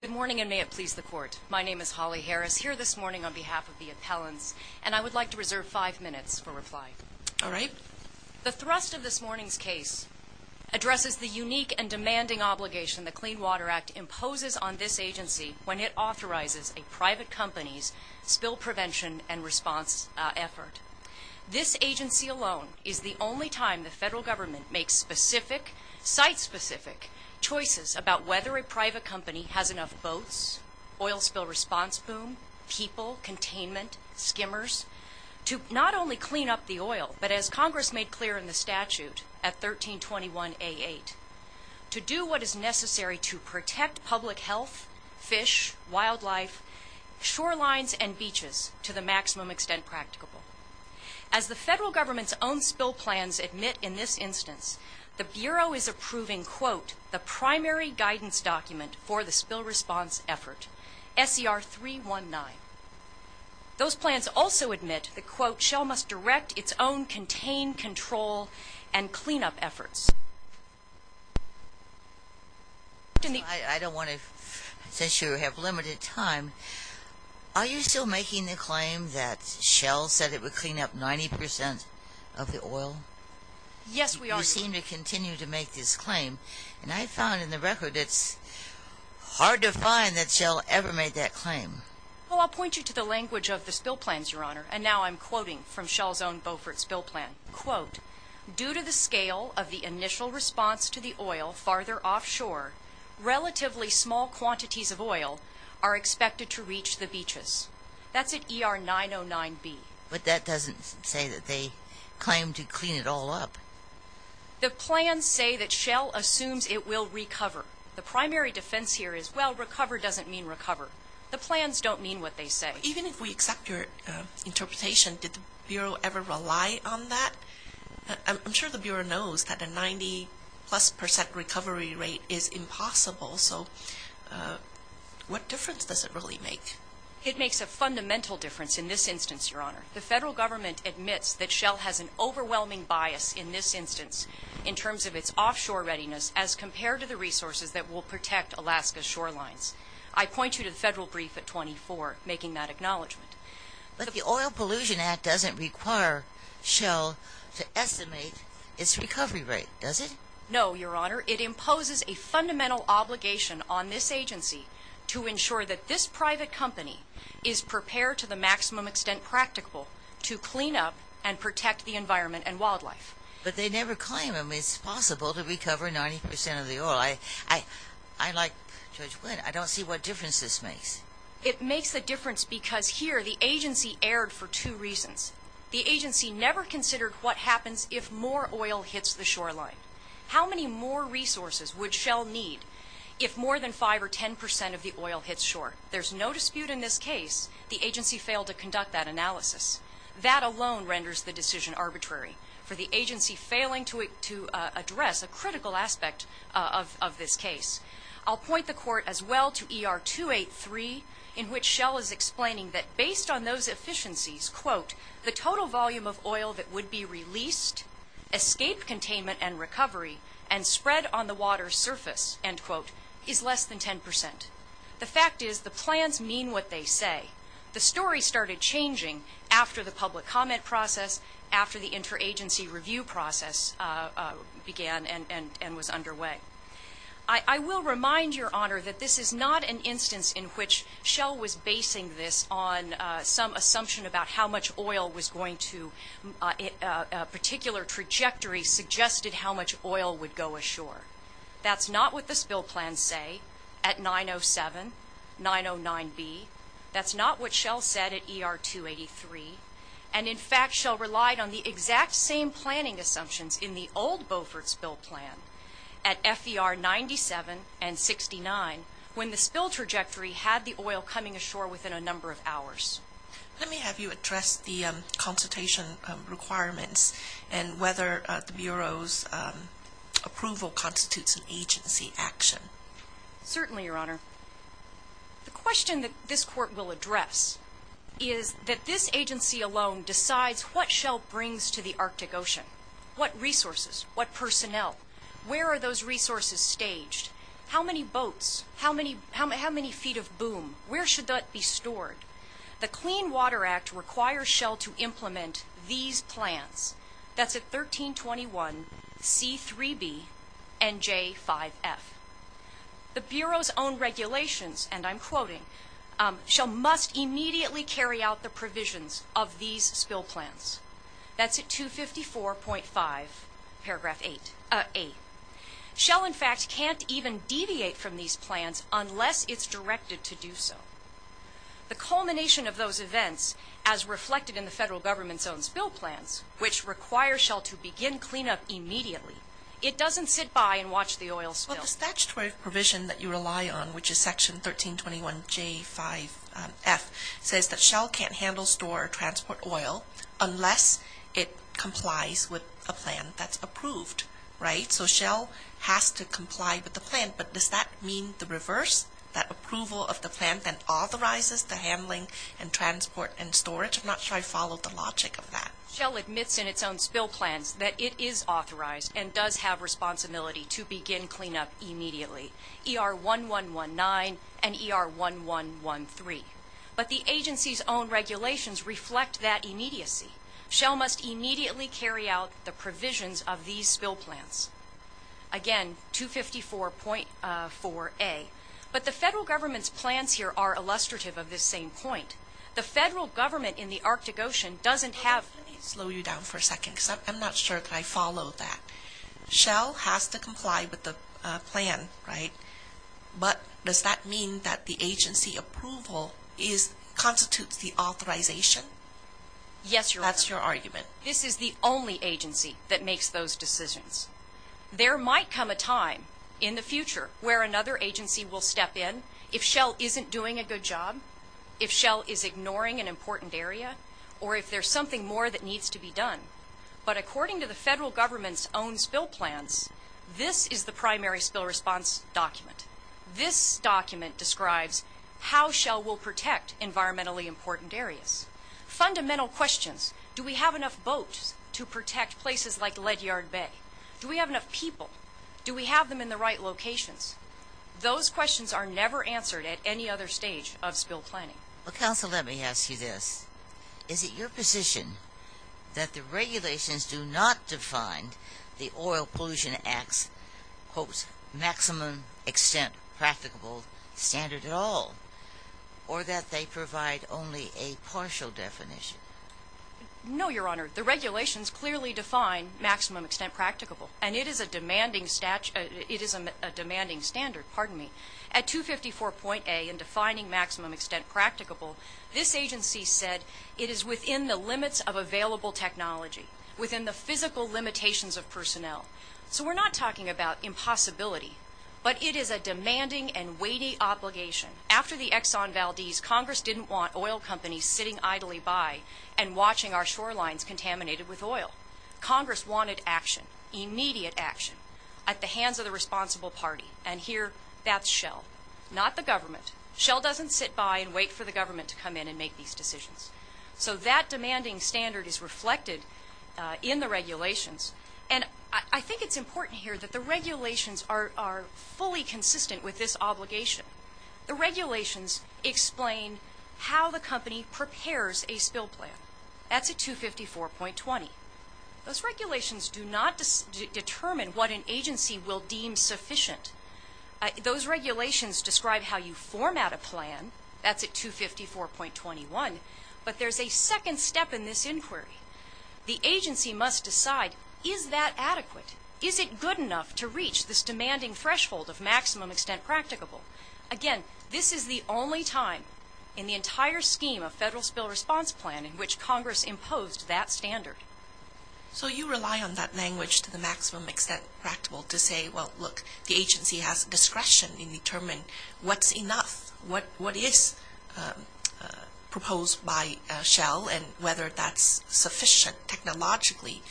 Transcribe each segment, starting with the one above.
Good morning, and may it please the court. My name is Holly Harris, here this morning on behalf of the appellants, and I would like to reserve five minutes for reply. All right. The thrust of this morning's case addresses the unique and demanding obligation the Clean Water Act imposes on this agency when it authorizes a private company's spill prevention and response effort. This agency alone is the only time the federal government makes specific, site-specific, choices about whether a private company has enough boats, oil spill response boom, people, containment, skimmers, to not only clean up the oil, but as Congress made clear in the statute at 1321A8, to do what is necessary to protect public health, fish, wildlife, shorelines, and beaches to the maximum extent practicable. As the federal government's own spill plans admit in this instance, the Bureau is approving, quote, the primary guidance document for the spill response effort, SCR 319. Those plans also admit that, quote, Shell must direct its own contain, control, and clean-up efforts. I don't want to, since you have limited time, are you still making the claim that Shell said it would clean up 90% of the oil? Yes, we are. You seem to continue to make this claim, and I found in the record it's hard to find that Shell ever made that claim. Well, I'll point you to the language of the spill plans, Your Honor, and now I'm quoting from Shell's own Beaufort spill plan. Quote, due to the scale of the initial response to the oil farther offshore, relatively small quantities of oil are expected to reach the beaches. That's at ER 909B. But that doesn't say that they claim to clean it all up. The plans say that Shell assumes it will recover. The primary defense here is, well, recover doesn't mean recover. The plans don't mean what they say. Even if we accept your interpretation, did the Bureau ever rely on that? I'm sure the Bureau knows that a 90-plus percent recovery rate is impossible, so what difference does it really make? It makes a fundamental difference in this instance, Your Honor. The federal government admits that Shell has an overwhelming bias in this instance in terms of its offshore readiness as compared to the resources that will protect Alaska's shorelines. I point you to the federal brief at 24 making that acknowledgment. But the Oil Pollution Act doesn't require Shell to estimate its recovery rate, does it? No, Your Honor. It imposes a fundamental obligation on this agency to ensure that this private company is prepared to the maximum extent practicable to clean up and protect the environment and wildlife. But they never claim it's possible to recover 90 percent of the oil. I like Judge Wood. I don't see what difference this makes. It makes a difference because here the agency erred for two reasons. The agency never considered what happens if more oil hits the shoreline. How many more resources would Shell need if more than 5 or 10 percent of the oil hits shore? There's no dispute in this case the agency failed to conduct that analysis. That alone renders the decision arbitrary for the agency failing to address a critical aspect of this case. I'll point the Court as well to ER 283 in which Shell is explaining that based on those efficiencies, quote, the total volume of oil that would be released, escape containment and recovery, and spread on the water's surface, end quote, is less than 10 percent. The fact is the plans mean what they say. The story started changing after the public comment process, after the interagency review process began and was underway. I will remind Your Honor that this is not an instance in which Shell was basing this on some assumption about how much oil was going to, a particular trajectory suggested how much oil would go ashore. That's not what the spill plans say at 907, 909B. That's not what Shell said at ER 283. And, in fact, Shell relied on the exact same planning assumptions in the old Beaufort spill plan at FER 97 and 69 when the spill trajectory had the oil coming ashore within a number of hours. Let me have you address the consultation requirements and whether the Bureau's approval constitutes an agency action. Certainly, Your Honor. The question that this Court will address is that this agency alone decides what Shell brings to the Arctic Ocean. What resources? What personnel? Where are those resources staged? How many boats? How many feet of boom? Where should that be stored? The Clean Water Act requires Shell to implement these plans. That's at 1321C3B and J5F. The Bureau's own regulations, and I'm quoting, Shell must immediately carry out the provisions of these spill plans. That's at 254.5 paragraph 8. Shell, in fact, can't even deviate from these plans unless it's directed to do so. The culmination of those events, as reflected in the federal government's own spill plans, which require Shell to begin cleanup immediately, it doesn't sit by and watch the oil spill. Well, the statutory provision that you rely on, which is Section 1321J5F, says that Shell can't handle, store, or transport oil unless it complies with a plan that's approved, right? So Shell has to comply with the plan, but does that mean the reverse? That approval of the plan then authorizes the handling and transport and storage? I'm not sure I follow the logic of that. Shell admits in its own spill plans that it is authorized and does have responsibility to begin cleanup immediately, ER1119 and ER1113. But the agency's own regulations reflect that immediacy. Shell must immediately carry out the provisions of these spill plans. Again, 254.4A. But the federal government's plans here are illustrative of this same point. The federal government in the Arctic Ocean doesn't have... Let me slow you down for a second because I'm not sure that I follow that. Shell has to comply with the plan, right? But does that mean that the agency approval constitutes the authorization? Yes, Your Honor. That's your argument. This is the only agency that makes those decisions. There might come a time in the future where another agency will step in if Shell isn't doing a good job, if Shell is ignoring an important area, or if there's something more that needs to be done. But according to the federal government's own spill plans, this is the primary spill response document. This document describes how Shell will protect environmentally important areas. Fundamental questions. Do we have enough boats to protect places like Ledyard Bay? Do we have enough people? Do we have them in the right locations? Those questions are never answered at any other stage of spill planning. Counsel, let me ask you this. Is it your position that the regulations do not define the Oil Pollution Act's quote, maximum extent practicable standard at all, or that they provide only a partial definition? No, Your Honor. The regulations clearly define maximum extent practicable, and it is a demanding standard. At 254.A, in defining maximum extent practicable, this agency said it is within the limits of available technology, within the physical limitations of personnel. So we're not talking about impossibility, but it is a demanding and weighty obligation. After the Exxon Valdez, Congress didn't want oil companies sitting idly by and watching our shorelines contaminated with oil. Congress wanted action, immediate action, at the hands of the responsible party. And here, that's Shell, not the government. Shell doesn't sit by and wait for the government to come in and make these decisions. So that demanding standard is reflected in the regulations. And I think it's important here that the regulations are fully consistent with this obligation. The regulations explain how the company prepares a spill plan. That's at 254.20. Those regulations do not determine what an agency will deem sufficient. Those regulations describe how you format a plan. That's at 254.21. But there's a second step in this inquiry. The agency must decide, is that adequate? Is it good enough to reach this demanding threshold of maximum extent practicable? Again, this is the only time in the entire scheme a federal spill response plan in which Congress imposed that standard. So you rely on that language to the maximum extent practicable to say, well, look, the agency has discretion in determining what's enough, what is proposed by Shell and whether that's sufficient, technologically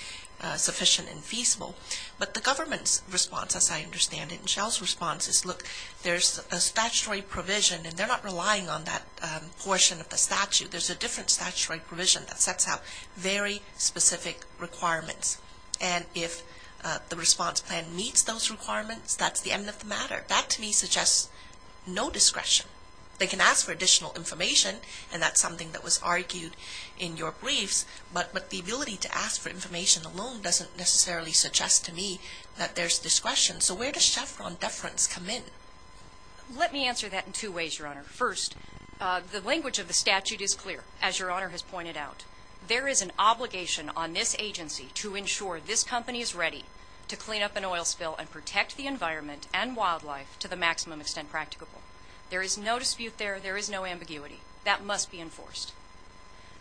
sufficient and feasible. But the government's response, as I understand it, and Shell's response is, look, there's a statutory provision and they're not relying on that portion of the statute. There's a different statutory provision that sets out very specific requirements. And if the response plan meets those requirements, that's the end of the matter. That to me suggests no discretion. They can ask for additional information, and that's something that was argued in your briefs, but the ability to ask for information alone doesn't necessarily suggest to me that there's discretion. So where does Chevron deference come in? Let me answer that in two ways, Your Honor. First, the language of the statute is clear, as Your Honor has pointed out. There is an obligation on this agency to ensure this company is ready to clean up an oil spill and protect the environment and wildlife to the maximum extent practicable. There is no dispute there. There is no ambiguity. That must be enforced.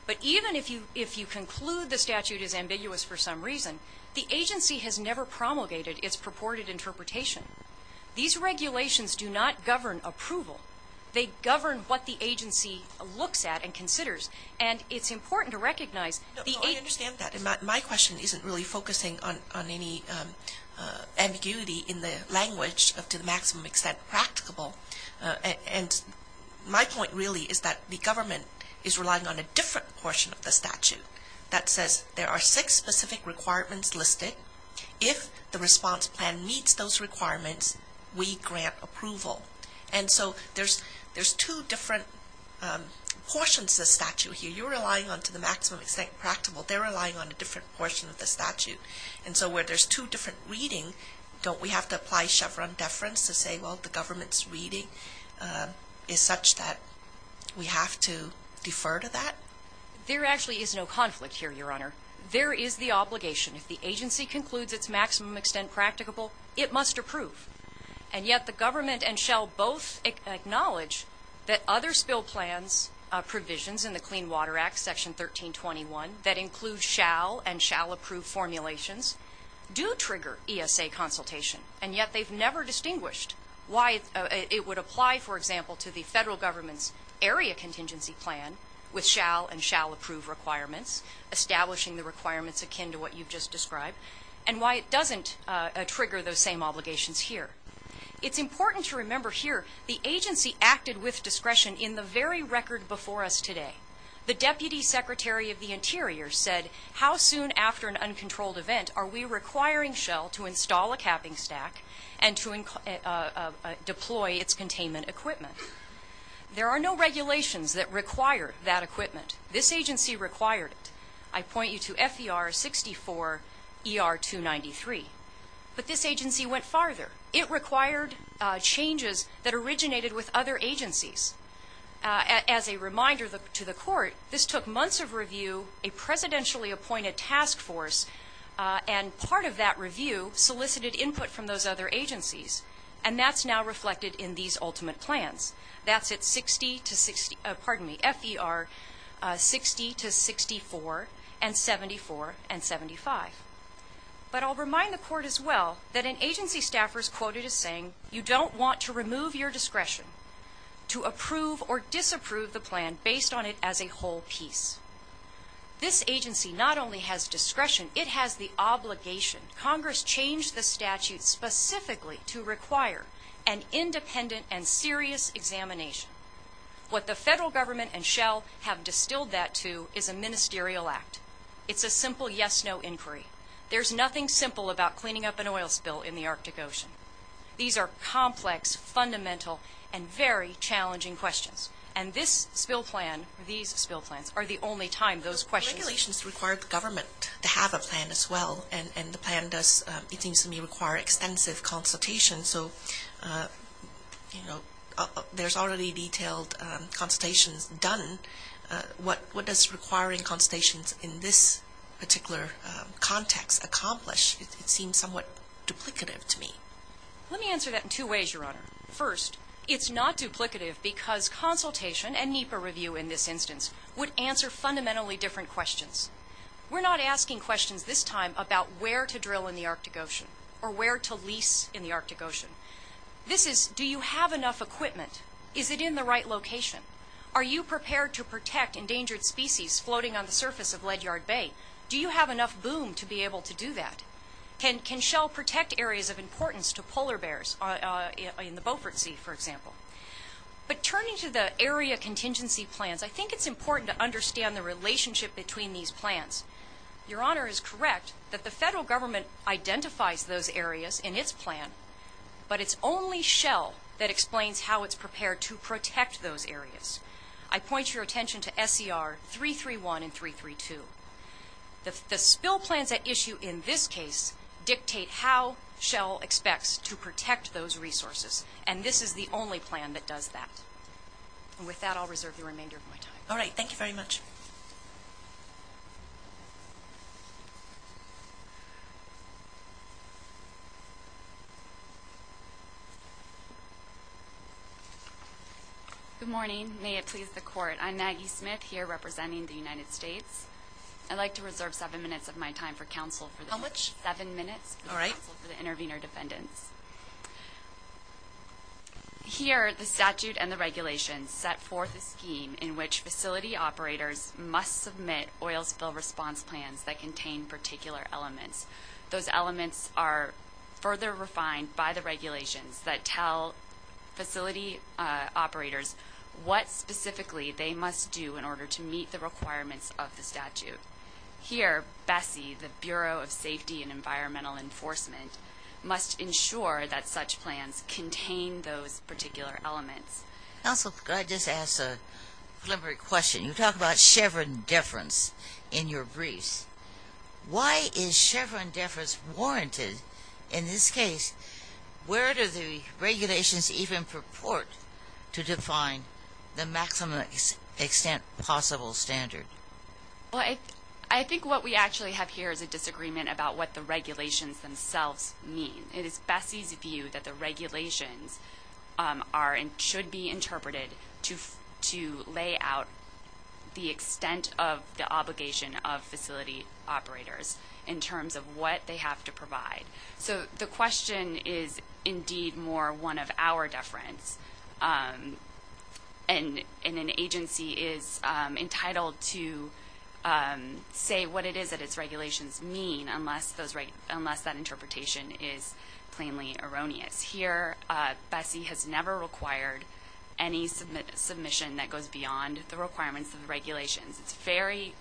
But even if you conclude the statute is ambiguous for some reason, the agency has never promulgated its purported interpretation. These regulations do not govern approval. They govern what the agency looks at and considers, and it's important to recognize the agency has a right to do so. No, I understand that. My question isn't really focusing on any ambiguity in the language of to the maximum extent practicable. And my point really is that the government is relying on a different portion of the statute that says there are six specific requirements listed. If the response plan meets those requirements, we grant approval. And so there's two different portions of the statute here. You're relying on to the maximum extent practicable. They're relying on a different portion of the statute. And so where there's two different readings, don't we have to apply Chevron deference to say, well, the government's reading is such that we have to defer to that? There actually is no conflict here, Your Honor. There is the obligation. If the agency concludes its maximum extent practicable, it must approve. And yet the government and shall both acknowledge that other spill plans, provisions in the Clean Water Act, Section 1321, that includes shall and shall approve formulations, do trigger ESA consultation. And yet they've never distinguished why it would apply, for example, to the federal government's area contingency plan with shall and shall approve requirements, establishing the requirements akin to what you've just described, and why it doesn't trigger those same obligations here. It's important to remember here the agency acted with discretion in the very record before us today. The Deputy Secretary of the Interior said, how soon after an uncontrolled event are we requiring shall to install a capping stack and to deploy its containment equipment? There are no regulations that require that equipment. This agency required it. I point you to FER 64 ER 293. But this agency went farther. It required changes that originated with other agencies. As a reminder to the Court, this took months of review, a presidentially appointed task force, and part of that review solicited input from those other agencies, and that's now reflected in these ultimate plans. That's at FER 60 to 64 and 74 and 75. But I'll remind the Court as well that an agency staffer is quoted as saying, you don't want to remove your discretion to approve or disapprove the plan based on it as a whole piece. This agency not only has discretion, it has the obligation. Congress changed the statute specifically to require an independent and serious examination. What the federal government and shall have distilled that to is a ministerial act. It's a simple yes-no inquiry. There's nothing simple about cleaning up an oil spill in the Arctic Ocean. These are complex, fundamental, and very challenging questions, and this spill plan, these spill plans, are the only time those questions The regulations require the government to have a plan as well, and the plan does, it seems to me, require extensive consultation. So there's already detailed consultations done. What does requiring consultations in this particular context accomplish? It seems somewhat duplicative to me. Let me answer that in two ways, Your Honor. First, it's not duplicative because consultation and NEPA review in this instance would answer fundamentally different questions. We're not asking questions this time about where to drill in the Arctic Ocean or where to lease in the Arctic Ocean. This is do you have enough equipment? Is it in the right location? Are you prepared to protect endangered species floating on the surface of Leadyard Bay? Do you have enough boom to be able to do that? Can Shell protect areas of importance to polar bears in the Beaufort Sea, for example? But turning to the area contingency plans, I think it's important to understand the relationship between these plans. Your Honor is correct that the federal government identifies those areas in its plan, but it's only Shell that explains how it's prepared to protect those areas. I point your attention to SCR 331 and 332. The spill plans at issue in this case dictate how Shell expects to protect those resources, and this is the only plan that does that. With that, I'll reserve the remainder of my time. All right. Thank you very much. Good morning. May it please the Court. I'm Maggie Smith here representing the United States. I'd like to reserve seven minutes of my time for counsel. How much? Seven minutes for counsel for the intervener defendants. Here, the statute and the regulations set forth a scheme in which facility operators must submit oil spill response plans that contain particular elements. Those elements are further refined by the regulations that tell facility operators what specifically they must do in order to meet the requirements of the statute. Here, BSEE, the Bureau of Safety and Environmental Enforcement, must ensure that such plans contain those particular elements. Counsel, could I just ask a preliminary question? You talk about Chevron deference in your briefs. Why is Chevron deference warranted in this case? Where do the regulations even purport to define the maximum extent possible standard? I think what we actually have here is a disagreement about what the regulations themselves mean. It is BSEE's view that the regulations should be interpreted to lay out the extent of the obligation of facility operators in terms of what they have to provide. So the question is indeed more one of our deference, and an agency is entitled to say what it is that its regulations mean unless that interpretation is plainly erroneous. Here, BSEE has never required any submission that goes beyond the requirements of the regulations. It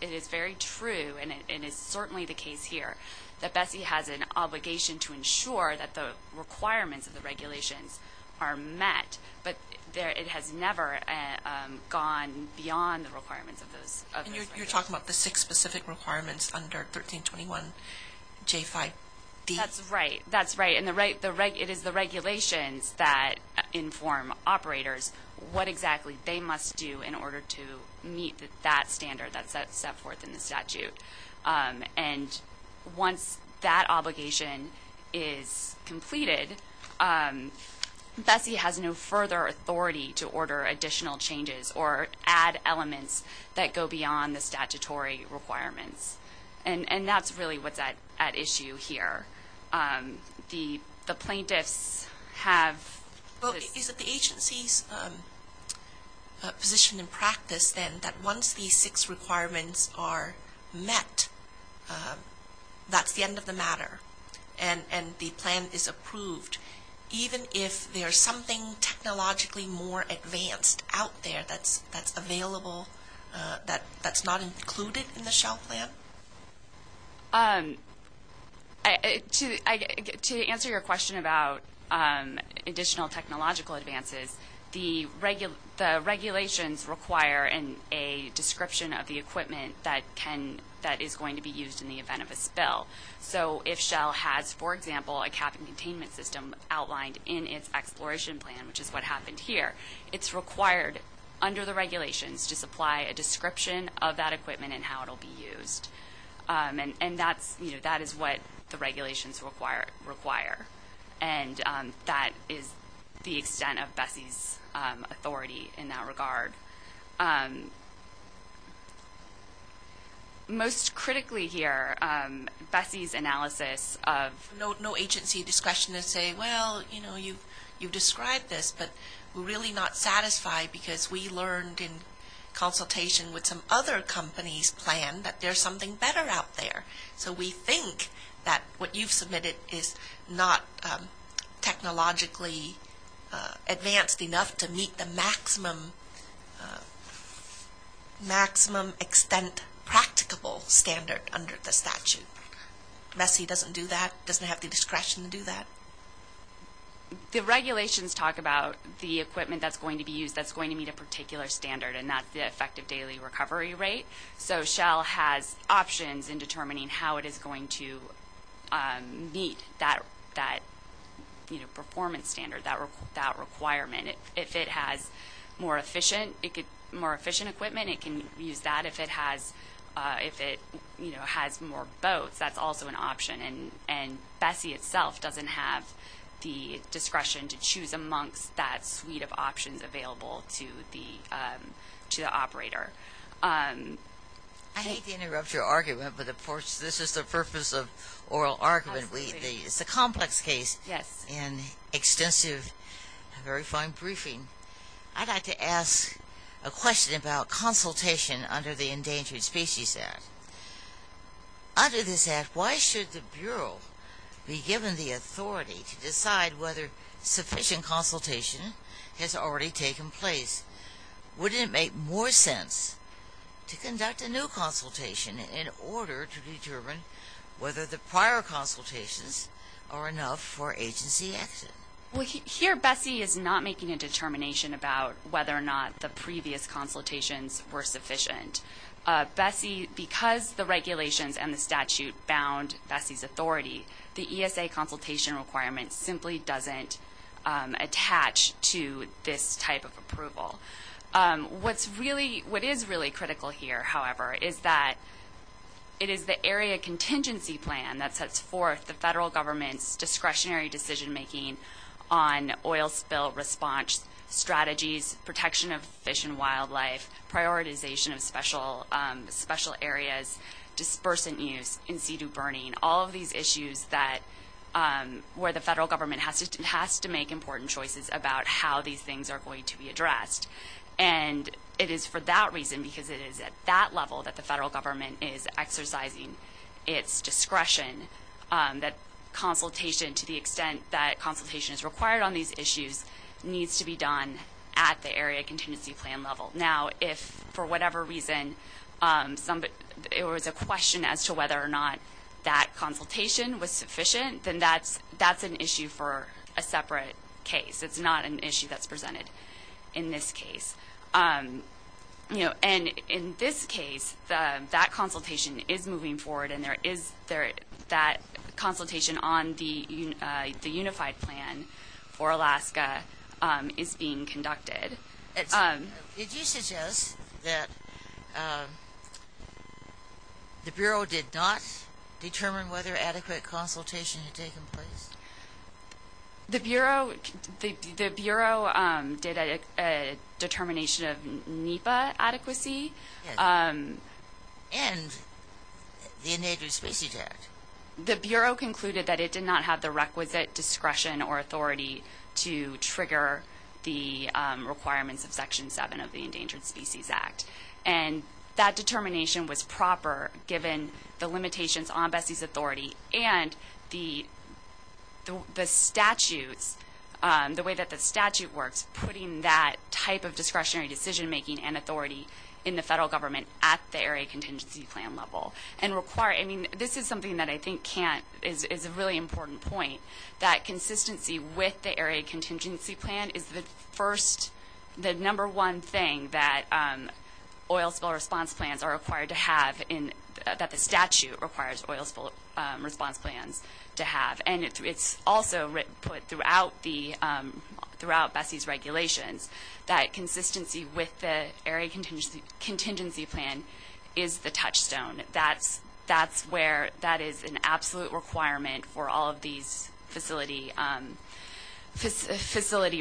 is very true, and it is certainly the case here, that BSEE has an obligation to ensure that the requirements of the regulations are met, but it has never gone beyond the requirements of those regulations. And you're talking about the six specific requirements under 1321J5D? That's right. That's right, and it is the regulations that inform operators what exactly they must do in order to meet that standard, that step forth in the statute. And once that obligation is completed, BSEE has no further authority to order additional changes or add elements that go beyond the statutory requirements. And that's really what's at issue here. The plaintiffs have... Well, is it the agency's position in practice then that once these six requirements are met, that's the end of the matter and the plan is approved, even if there's something technologically more advanced out there that's available, that's not included in the shell plan? To answer your question about additional technological advances, the regulations require a description of the equipment that is going to be used in the event of a spill. So if Shell has, for example, a cabin containment system outlined in its exploration plan, which is what happened here, it's required under the regulations to supply a description of that equipment and how it will be used. And that is what the regulations require, and that is the extent of BSEE's authority in that regard. Most critically here, BSEE's analysis of... because we learned in consultation with some other companies' plan that there's something better out there. So we think that what you've submitted is not technologically advanced enough to meet the maximum extent practicable standard under the statute. BSEE doesn't do that, doesn't have the discretion to do that. The regulations talk about the equipment that's going to be used that's going to meet a particular standard, and that's the effective daily recovery rate. So Shell has options in determining how it is going to meet that performance standard, that requirement. If it has more efficient equipment, it can use that. If it has more boats, that's also an option. And BSEE itself doesn't have the discretion to choose amongst that suite of options available to the operator. I hate to interrupt your argument, but of course this is the purpose of oral argument. It's a complex case and extensive, very fine briefing. I'd like to ask a question about consultation under the Endangered Species Act. Under this act, why should the Bureau be given the authority to decide whether sufficient consultation has already taken place? Wouldn't it make more sense to conduct a new consultation in order to determine whether the prior consultations are enough for agency action? Here, BSEE is not making a determination about whether or not the previous consultations were sufficient. BSEE, because the regulations and the statute bound BSEE's authority, the ESA consultation requirement simply doesn't attach to this type of approval. What is really critical here, however, is that it is the Area Contingency Plan that sets forth the federal government's discretionary decision-making on oil spill response strategies, protection of fish and wildlife, prioritization of special areas, dispersant use, in-situ burning, all of these issues where the federal government has to make important choices about how these things are going to be addressed. And it is for that reason, because it is at that level that the federal government is exercising its discretion, that consultation, to the extent that consultation is required on these issues, needs to be done at the Area Contingency Plan level. Now, if for whatever reason there was a question as to whether or not that consultation was sufficient, then that's an issue for a separate case. It's not an issue that's presented in this case. And in this case, that consultation is moving forward and that consultation on the Unified Plan for Alaska is being conducted. Did you suggest that the Bureau did not determine whether adequate consultation had taken place? The Bureau did a determination of NEPA adequacy. And the Endangered Species Act. The Bureau concluded that it did not have the requisite discretion or authority to trigger the requirements of Section 7 of the Endangered Species Act. And that determination was proper, given the limitations on BSEE's authority and the statutes, the way that the statute works, putting that type of discretionary decision-making and authority in the federal government at the Area Contingency Plan level. And this is something that I think is a really important point, that consistency with the Area Contingency Plan is the number one thing that oil spill response plans are required to have, that the statute requires oil spill response plans to have. And it's also put throughout BSEE's regulations that consistency with the Area Contingency Plan is the touchstone. That is an absolute requirement for all of these facility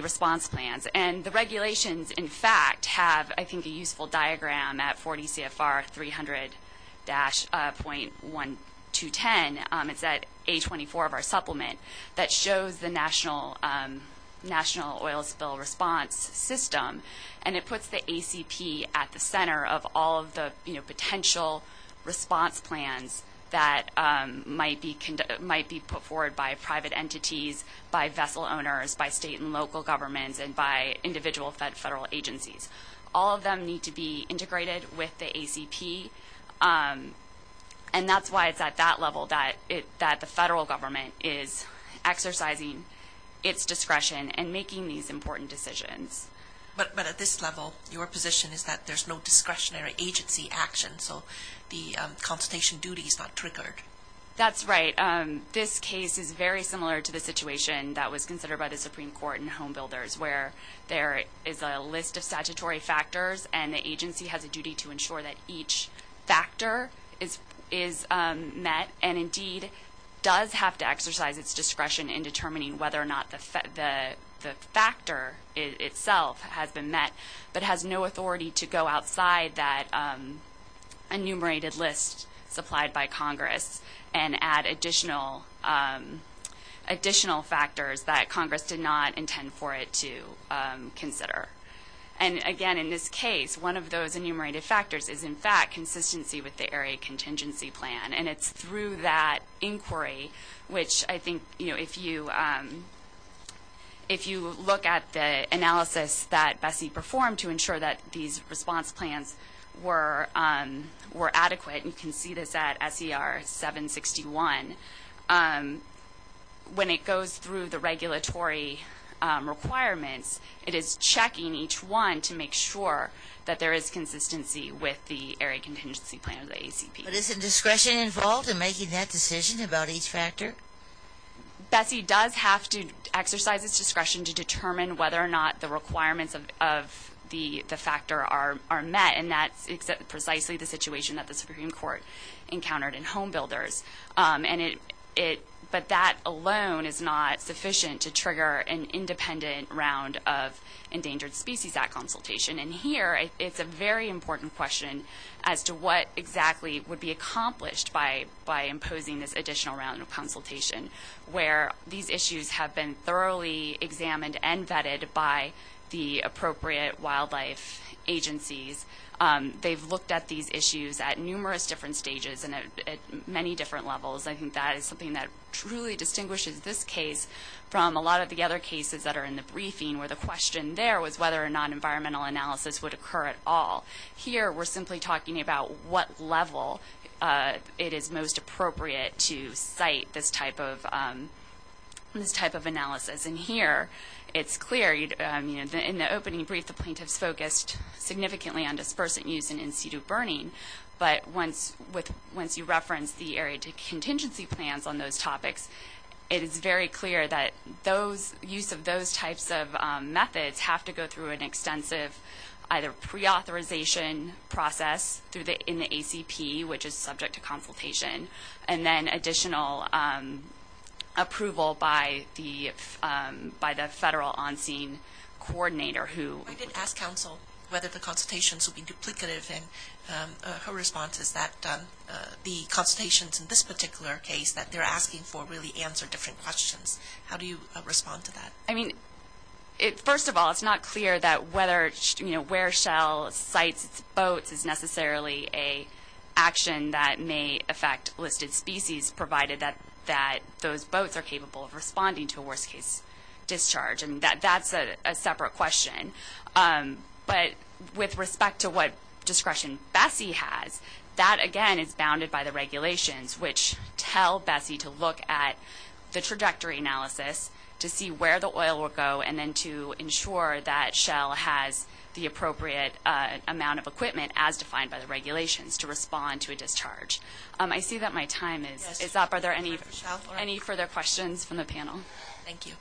response plans. And the regulations, in fact, have, I think, a useful diagram at 40 CFR 300-.1210. It's at A24 of our supplement that shows the national oil spill response system. And it puts the ACP at the center of all of the potential response plans that might be put forward by private entities, by vessel owners, by state and local governments, and by individual federal agencies. All of them need to be integrated with the ACP. And that's why it's at that level that the federal government is exercising its discretion in making these important decisions. But at this level, your position is that there's no discretionary agency action, so the consultation duty is not triggered. That's right. This case is very similar to the situation that was considered by the Supreme Court in Home Builders, where there is a list of statutory factors and the agency has a duty to ensure that each factor is met and indeed does have to exercise its discretion in determining whether or not the factor itself has been met, but has no authority to go outside that enumerated list supplied by Congress and add additional factors that Congress did not intend for it to consider. And again, in this case, one of those enumerated factors is, in fact, consistency with the Area Contingency Plan. And it's through that inquiry, which I think, you know, if you look at the analysis that Bessie performed to ensure that these response plans were adequate, and you can see this at SER 761, when it goes through the regulatory requirements, it is checking each one to make sure that there is consistency with the Area Contingency Plan or the ACP. But isn't discretion involved in making that decision about each factor? Bessie does have to exercise its discretion to determine whether or not the requirements of the factor are met, and that's precisely the situation that the Supreme Court encountered in Home Builders. But that alone is not sufficient to trigger an independent round of Endangered Species Act consultation. And here, it's a very important question as to what exactly would be accomplished by imposing this additional round of consultation, where these issues have been thoroughly examined and vetted by the appropriate wildlife agencies. They've looked at these issues at numerous different stages and at many different levels. I think that is something that truly distinguishes this case from a lot of the other cases that are in the briefing, where the question there was whether or not environmental analysis would occur at all. Here, we're simply talking about what level it is most appropriate to cite this type of analysis. And here, it's clear, in the opening brief, the plaintiffs focused significantly on dispersant use and in-situ burning. But once you reference the Area Contingency Plans on those topics, it is very clear that use of those types of methods have to go through an extensive either pre-authorization process in the ACP, which is subject to consultation, and then additional approval by the federal on-scene coordinator who… I did ask counsel whether the consultations would be duplicative, and her response is that the consultations in this particular case that they're asking for really answer different questions. How do you respond to that? I mean, first of all, it's not clear that whether, you know, where shall cite boats is necessarily an action that may affect listed species, provided that those boats are capable of responding to a worst-case discharge. And that's a separate question. But with respect to what discretion Bessie has, that, again, is bounded by the regulations, which tell Bessie to look at the trajectory analysis to see where the oil will go and then to ensure that Shell has the appropriate amount of equipment, as defined by the regulations, to respond to a discharge. I see that my time is up. Are there any further questions from the panel? Thank you.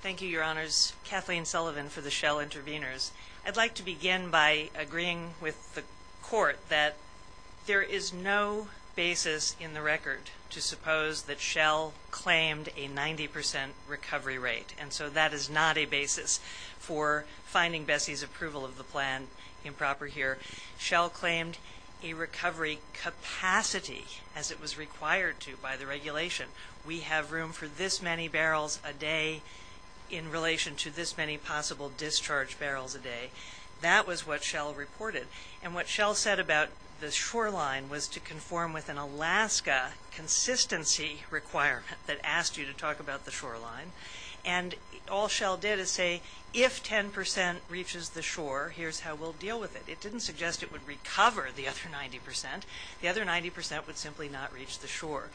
Thank you, Your Honors. Kathleen Sullivan for the Shell Intervenors. I'd like to begin by agreeing with the Court that there is no basis in the record to suppose that Shell claimed a 90 percent recovery rate, and so that is not a basis for finding Bessie's approval of the plan improper here. Shell claimed a recovery capacity, as it was required to by the regulation. We have room for this many barrels a day in relation to this many possible discharge barrels a day. That was what Shell reported. And what Shell said about the shoreline was to conform with an Alaska consistency requirement that asked you to talk about the shoreline. And all Shell did is say, if 10 percent reaches the shore, here's how we'll deal with it. It didn't suggest it would recover the other 90 percent. The other 90 percent would simply not reach the shore.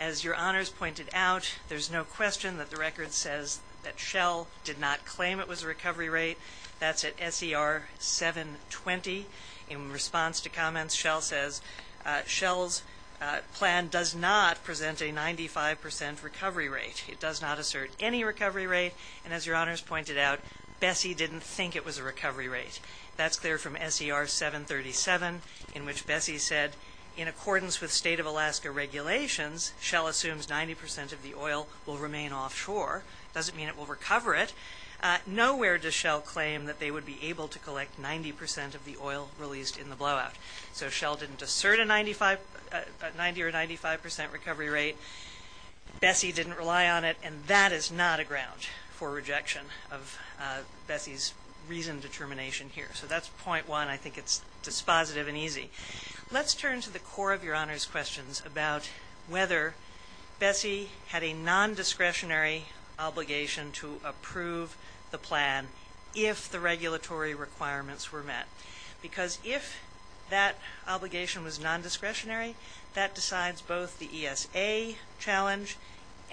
As Your Honors pointed out, there's no question that the record says that Shell did not claim it was a recovery rate. That's at SER 720. In response to comments, Shell says Shell's plan does not present a 95 percent recovery rate. It does not assert any recovery rate. And as Your Honors pointed out, Bessie didn't think it was a recovery rate. That's clear from SER 737, in which Bessie said, in accordance with state of Alaska regulations, Shell assumes 90 percent of the oil will remain offshore. It doesn't mean it will recover it. Nowhere does Shell claim that they would be able to collect 90 percent of the oil released in the blowout. So Shell didn't assert a 90 or 95 percent recovery rate. Bessie didn't rely on it. And that is not a ground for rejection of Bessie's reasoned determination here. So that's point one. I think it's dispositive and easy. Let's turn to the core of Your Honors' questions about whether Bessie had a nondiscretionary obligation to approve the plan if the regulatory requirements were met. Because if that obligation was nondiscretionary, that decides both the ESA challenge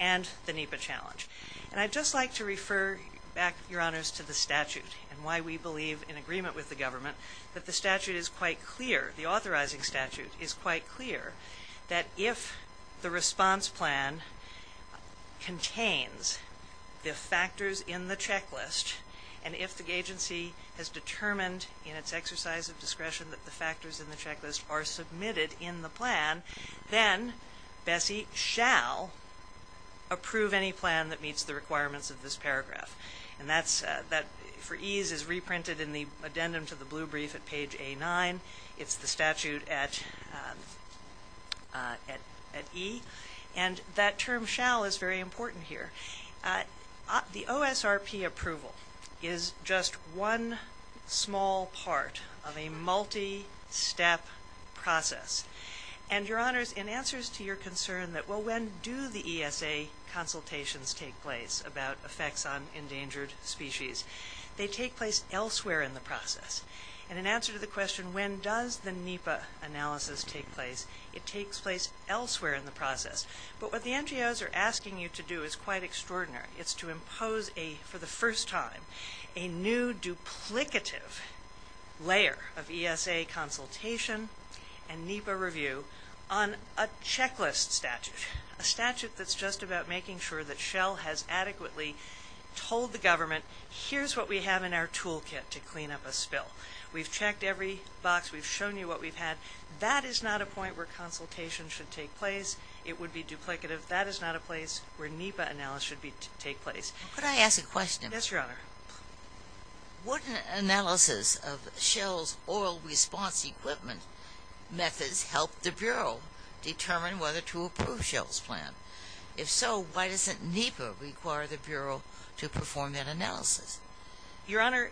and the NEPA challenge. And I'd just like to refer back, Your Honors, to the statute and why we believe in agreement with the government that the statute is quite clear, the authorizing statute is quite clear, that if the response plan contains the factors in the checklist and if the agency has determined in its exercise of discretion that the factors in the checklist are submitted in the plan, then Bessie shall approve any plan that meets the requirements of this paragraph. And that for ease is reprinted in the addendum to the blue brief at page A9. It's the statute at E. And that term shall is very important here. The OSRP approval is just one small part of a multi-step process. And, Your Honors, in answers to your concern that, well, when do the ESA consultations take place about effects on endangered species, they take place elsewhere in the process. And in answer to the question, when does the NEPA analysis take place, it takes place elsewhere in the process. But what the NGOs are asking you to do is quite extraordinary. It's to impose a, for the first time, a new duplicative layer of ESA consultation and NEPA review on a checklist statute, a statute that's just about making sure that Shell has adequately told the government, here's what we have in our toolkit to clean up a spill. We've checked every box. We've shown you what we've had. That is not a point where consultation should take place. It would be duplicative. That is not a place where NEPA analysis should take place. Could I ask a question? Yes, Your Honor. Wouldn't analysis of Shell's oil response equipment methods help the Bureau determine whether to approve Shell's plan? If so, why doesn't NEPA require the Bureau to perform that analysis? Your Honor,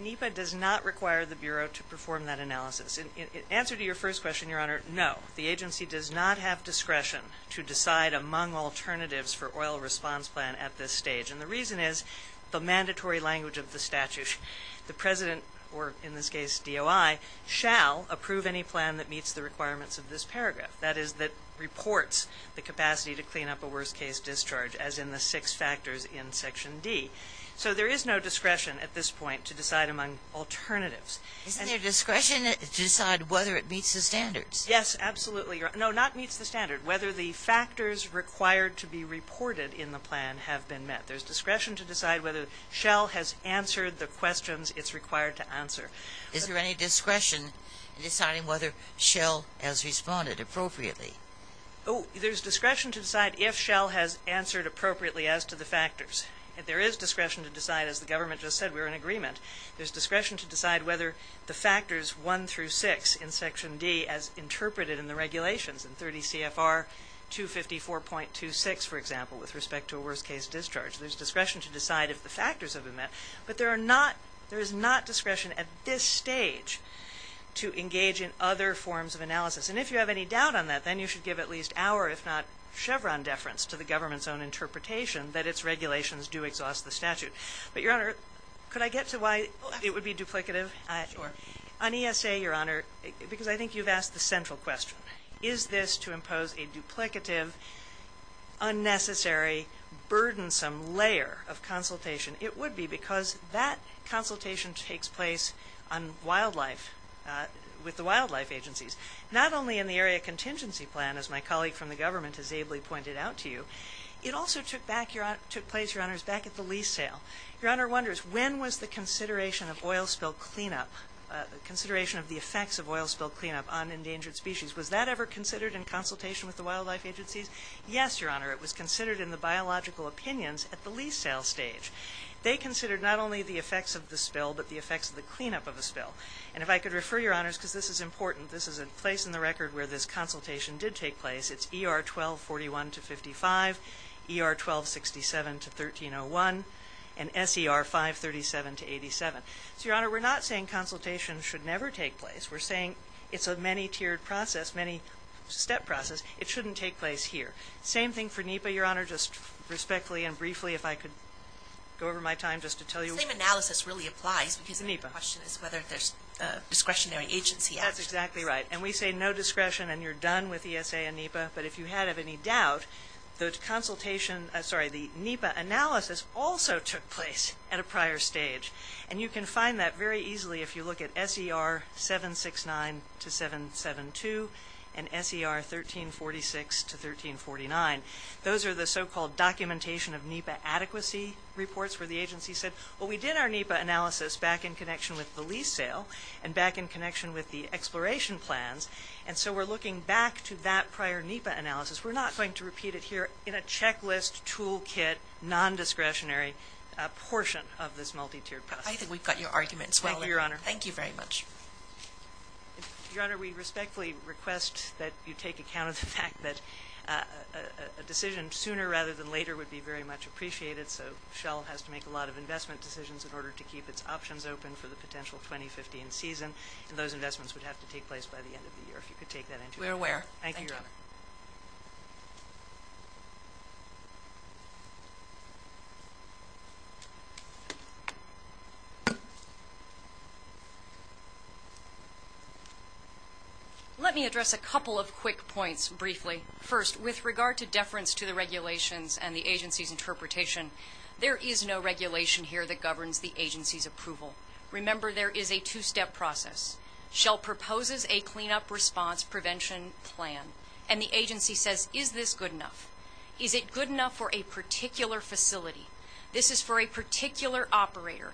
NEPA does not require the Bureau to perform that analysis. In answer to your first question, Your Honor, no. The agency does not have discretion to decide among alternatives for oil response plan at this stage, and the reason is the mandatory language of the statute. The President, or in this case DOI, shall approve any plan that meets the requirements of this paragraph, that is, that reports the capacity to clean up a worst-case discharge as in the six factors in Section D. So there is no discretion at this point to decide among alternatives. Isn't there discretion to decide whether it meets the standards? Yes, absolutely, Your Honor. No, not meets the standard. Whether the factors required to be reported in the plan have been met. There's discretion to decide whether Shell has answered the questions it's required to answer. Is there any discretion in deciding whether Shell has responded appropriately? Oh, there's discretion to decide if Shell has answered appropriately as to the factors. There is discretion to decide, as the government just said, we're in agreement. There's discretion to decide whether the factors 1 through 6 in Section D as interpreted in the regulations, in 30 CFR 254.26, for example, with respect to a worst-case discharge. There's discretion to decide if the factors have been met, but there is not discretion at this stage to engage in other forms of analysis. And if you have any doubt on that, then you should give at least our, if not Chevron, deference to the government's own interpretation that its regulations do exhaust the statute. But, Your Honor, could I get to why it would be duplicative? Sure. On ESA, Your Honor, because I think you've asked the central question, is this to impose a duplicative, unnecessary, burdensome layer of consultation? It would be because that consultation takes place on wildlife, with the wildlife agencies. Not only in the Area Contingency Plan, as my colleague from the government has ably pointed out to you, it also took place, Your Honors, back at the lease sale. Your Honor wonders, when was the consideration of oil spill cleanup, consideration of the effects of oil spill cleanup on endangered species, was that ever considered in consultation with the wildlife agencies? Yes, Your Honor, it was considered in the biological opinions at the lease sale stage. They considered not only the effects of the spill, but the effects of the cleanup of a spill. And if I could refer Your Honors, because this is important, this is a place in the record where this consultation did take place. It's ER 1241-55, ER 1267-1301, and SER 537-87. So, Your Honor, we're not saying consultation should never take place. We're saying it's a many-tiered process, many-step process. It shouldn't take place here. Same thing for NEPA, Your Honor. Just respectfully and briefly, if I could go over my time just to tell you. The same analysis really applies because the question is whether there's discretionary agency actions. That's exactly right. And we say no discretion and you're done with ESA and NEPA. But if you had any doubt, the consultation – sorry, the NEPA analysis also took place at a prior stage. And you can find that very easily if you look at SER 769-772 and SER 1346-1349. Those are the so-called documentation of NEPA adequacy reports where the agency said, well, we did our NEPA analysis back in connection with the lease sale and back in connection with the exploration plans. And so we're looking back to that prior NEPA analysis. We're not going to repeat it here in a checklist, toolkit, non-discretionary portion of this multi-tiered process. I think we've got your argument as well. Thank you, Your Honor. Thank you very much. Your Honor, we respectfully request that you take account of the fact that a decision sooner rather than later would be very much appreciated. So Shell has to make a lot of investment decisions in order to keep its options open for the potential 2015 season. And those investments would have to take place by the end of the year, if you could take that into account. We're aware. Thank you, Your Honor. Let me address a couple of quick points briefly. First, with regard to deference to the regulations and the agency's interpretation, there is no regulation here that governs the agency's approval. Remember, there is a two-step process. Shell proposes a cleanup response prevention plan, and the agency says, is this good enough? Is it good enough for a particular facility? This is for a particular operator.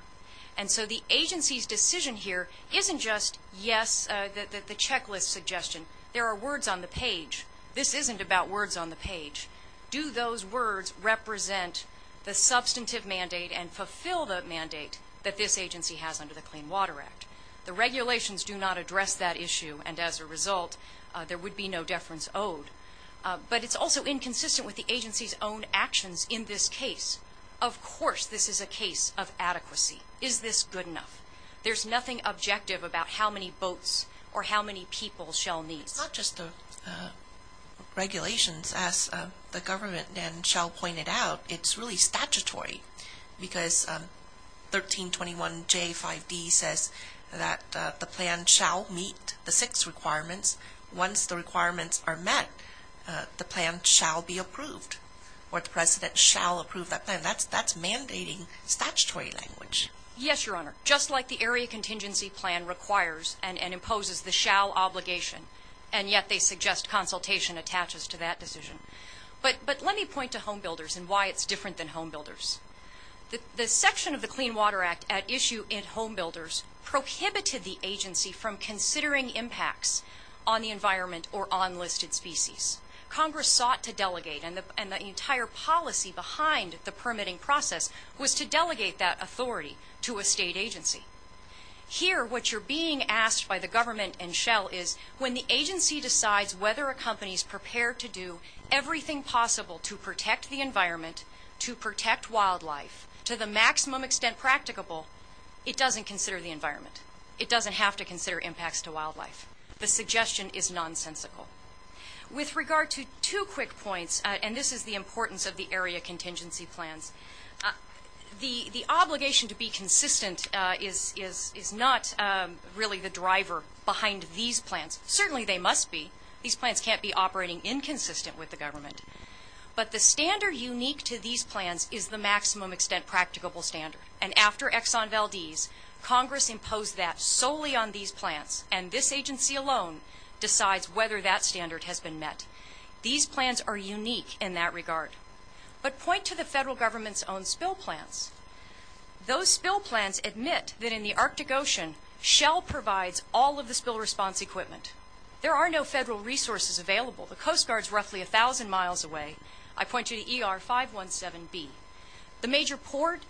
And so the agency's decision here isn't just yes, the checklist suggestion. There are words on the page. This isn't about words on the page. Do those words represent the substantive mandate and fulfill the mandate that this agency has under the Clean Water Act? The regulations do not address that issue, and as a result, there would be no deference owed. But it's also inconsistent with the agency's own actions in this case. Of course this is a case of adequacy. Is this good enough? There's nothing objective about how many boats or how many people Shell needs. It's not just the regulations, as the government and Shell pointed out. It's really statutory because 1321J5D says that the plan shall meet the six requirements. Once the requirements are met, the plan shall be approved, or the president shall approve that plan. That's mandating statutory language. Yes, Your Honor, just like the Area Contingency Plan requires and imposes the Shell obligation, and yet they suggest consultation attaches to that decision. But let me point to homebuilders and why it's different than homebuilders. The section of the Clean Water Act at issue in homebuilders prohibited the agency from considering impacts on the environment or on listed species. Congress sought to delegate, and the entire policy behind the permitting process was to delegate that authority to a state agency. Here, what you're being asked by the government and Shell is, when the agency decides whether a company is prepared to do everything possible to protect the environment, to protect wildlife, to the maximum extent practicable, it doesn't consider the environment. It doesn't have to consider impacts to wildlife. The suggestion is nonsensical. With regard to two quick points, and this is the importance of the Area Contingency Plans, the obligation to be consistent is not really the driver behind these plans. Certainly they must be. These plans can't be operating inconsistent with the government. But the standard unique to these plans is the maximum extent practicable standard, and after Exxon Valdez, Congress imposed that solely on these plans, and this agency alone decides whether that standard has been met. These plans are unique in that regard. But point to the federal government's own spill plans. Those spill plans admit that in the Arctic Ocean, Shell provides all of the spill response equipment. There are no federal resources available. The Coast Guard's roughly 1,000 miles away. I point you to ER-517B. The major port,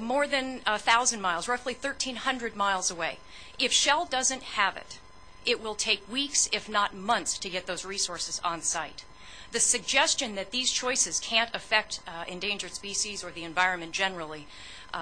more than 1,000 miles, roughly 1,300 miles away. If Shell doesn't have it, it will take weeks, if not months, to get those resources on site. The suggestion that these choices can't affect endangered species or the environment generally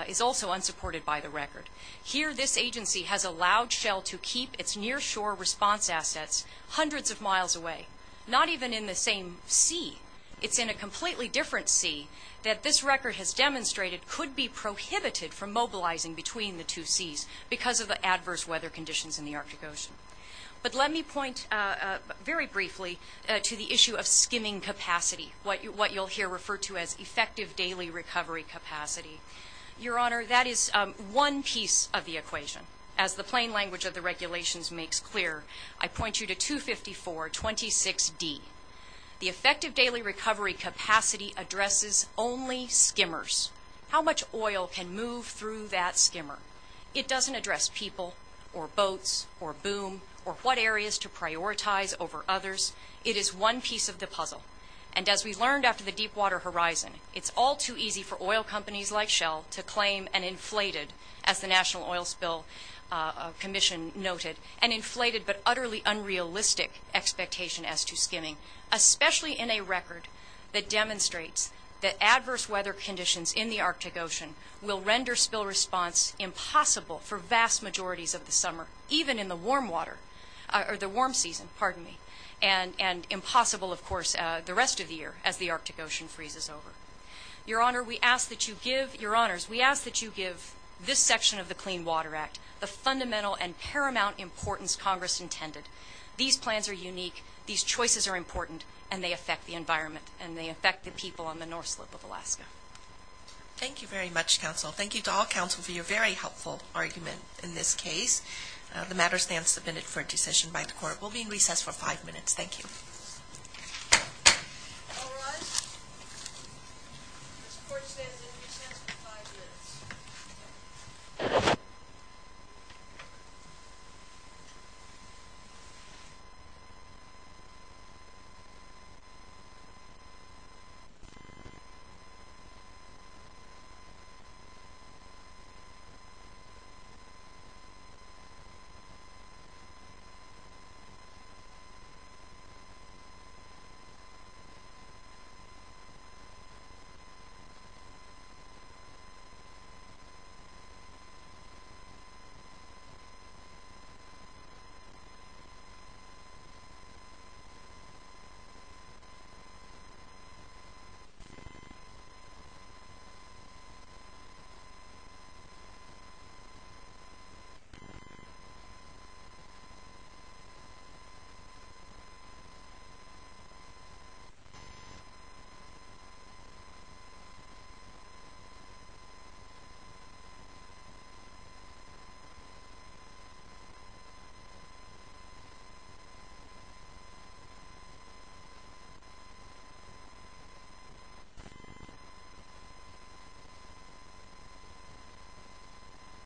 is also unsupported by the record. Here this agency has allowed Shell to keep its near shore response assets hundreds of miles away, not even in the same sea. It's in a completely different sea that this record has demonstrated could be prohibited from mobilizing between the two seas because of the adverse weather conditions in the Arctic Ocean. But let me point very briefly to the issue of skimming capacity, what you'll hear referred to as effective daily recovery capacity. Your Honor, that is one piece of the equation. As the plain language of the regulations makes clear, I point you to 25426D. The effective daily recovery capacity addresses only skimmers. How much oil can move through that skimmer? It doesn't address people or boats or boom or what areas to prioritize over others. It is one piece of the puzzle. And as we learned after the deep water horizon, it's all too easy for oil companies like Shell to claim an inflated, as the National Oil Spill Commission noted, an inflated but utterly unrealistic expectation as to skimming, especially in a record that demonstrates that adverse weather conditions in the Arctic Ocean will render spill response impossible for vast majorities of the summer, even in the warm water or the warm season, pardon me, and impossible, of course, the rest of the year as the Arctic Ocean freezes over. Your Honor, we ask that you give this section of the Clean Water Act the fundamental and paramount importance Congress intended. These plans are unique. These choices are important, and they affect the environment, and they affect the people on the North Slip of Alaska. Thank you very much, counsel. Thank you to all counsel for your very helpful argument in this case. The matter stands submitted for a decision by the court. We'll be in recess for five minutes. Thank you. All rise. This court stands in recess for five minutes. Five minutes. Five minutes.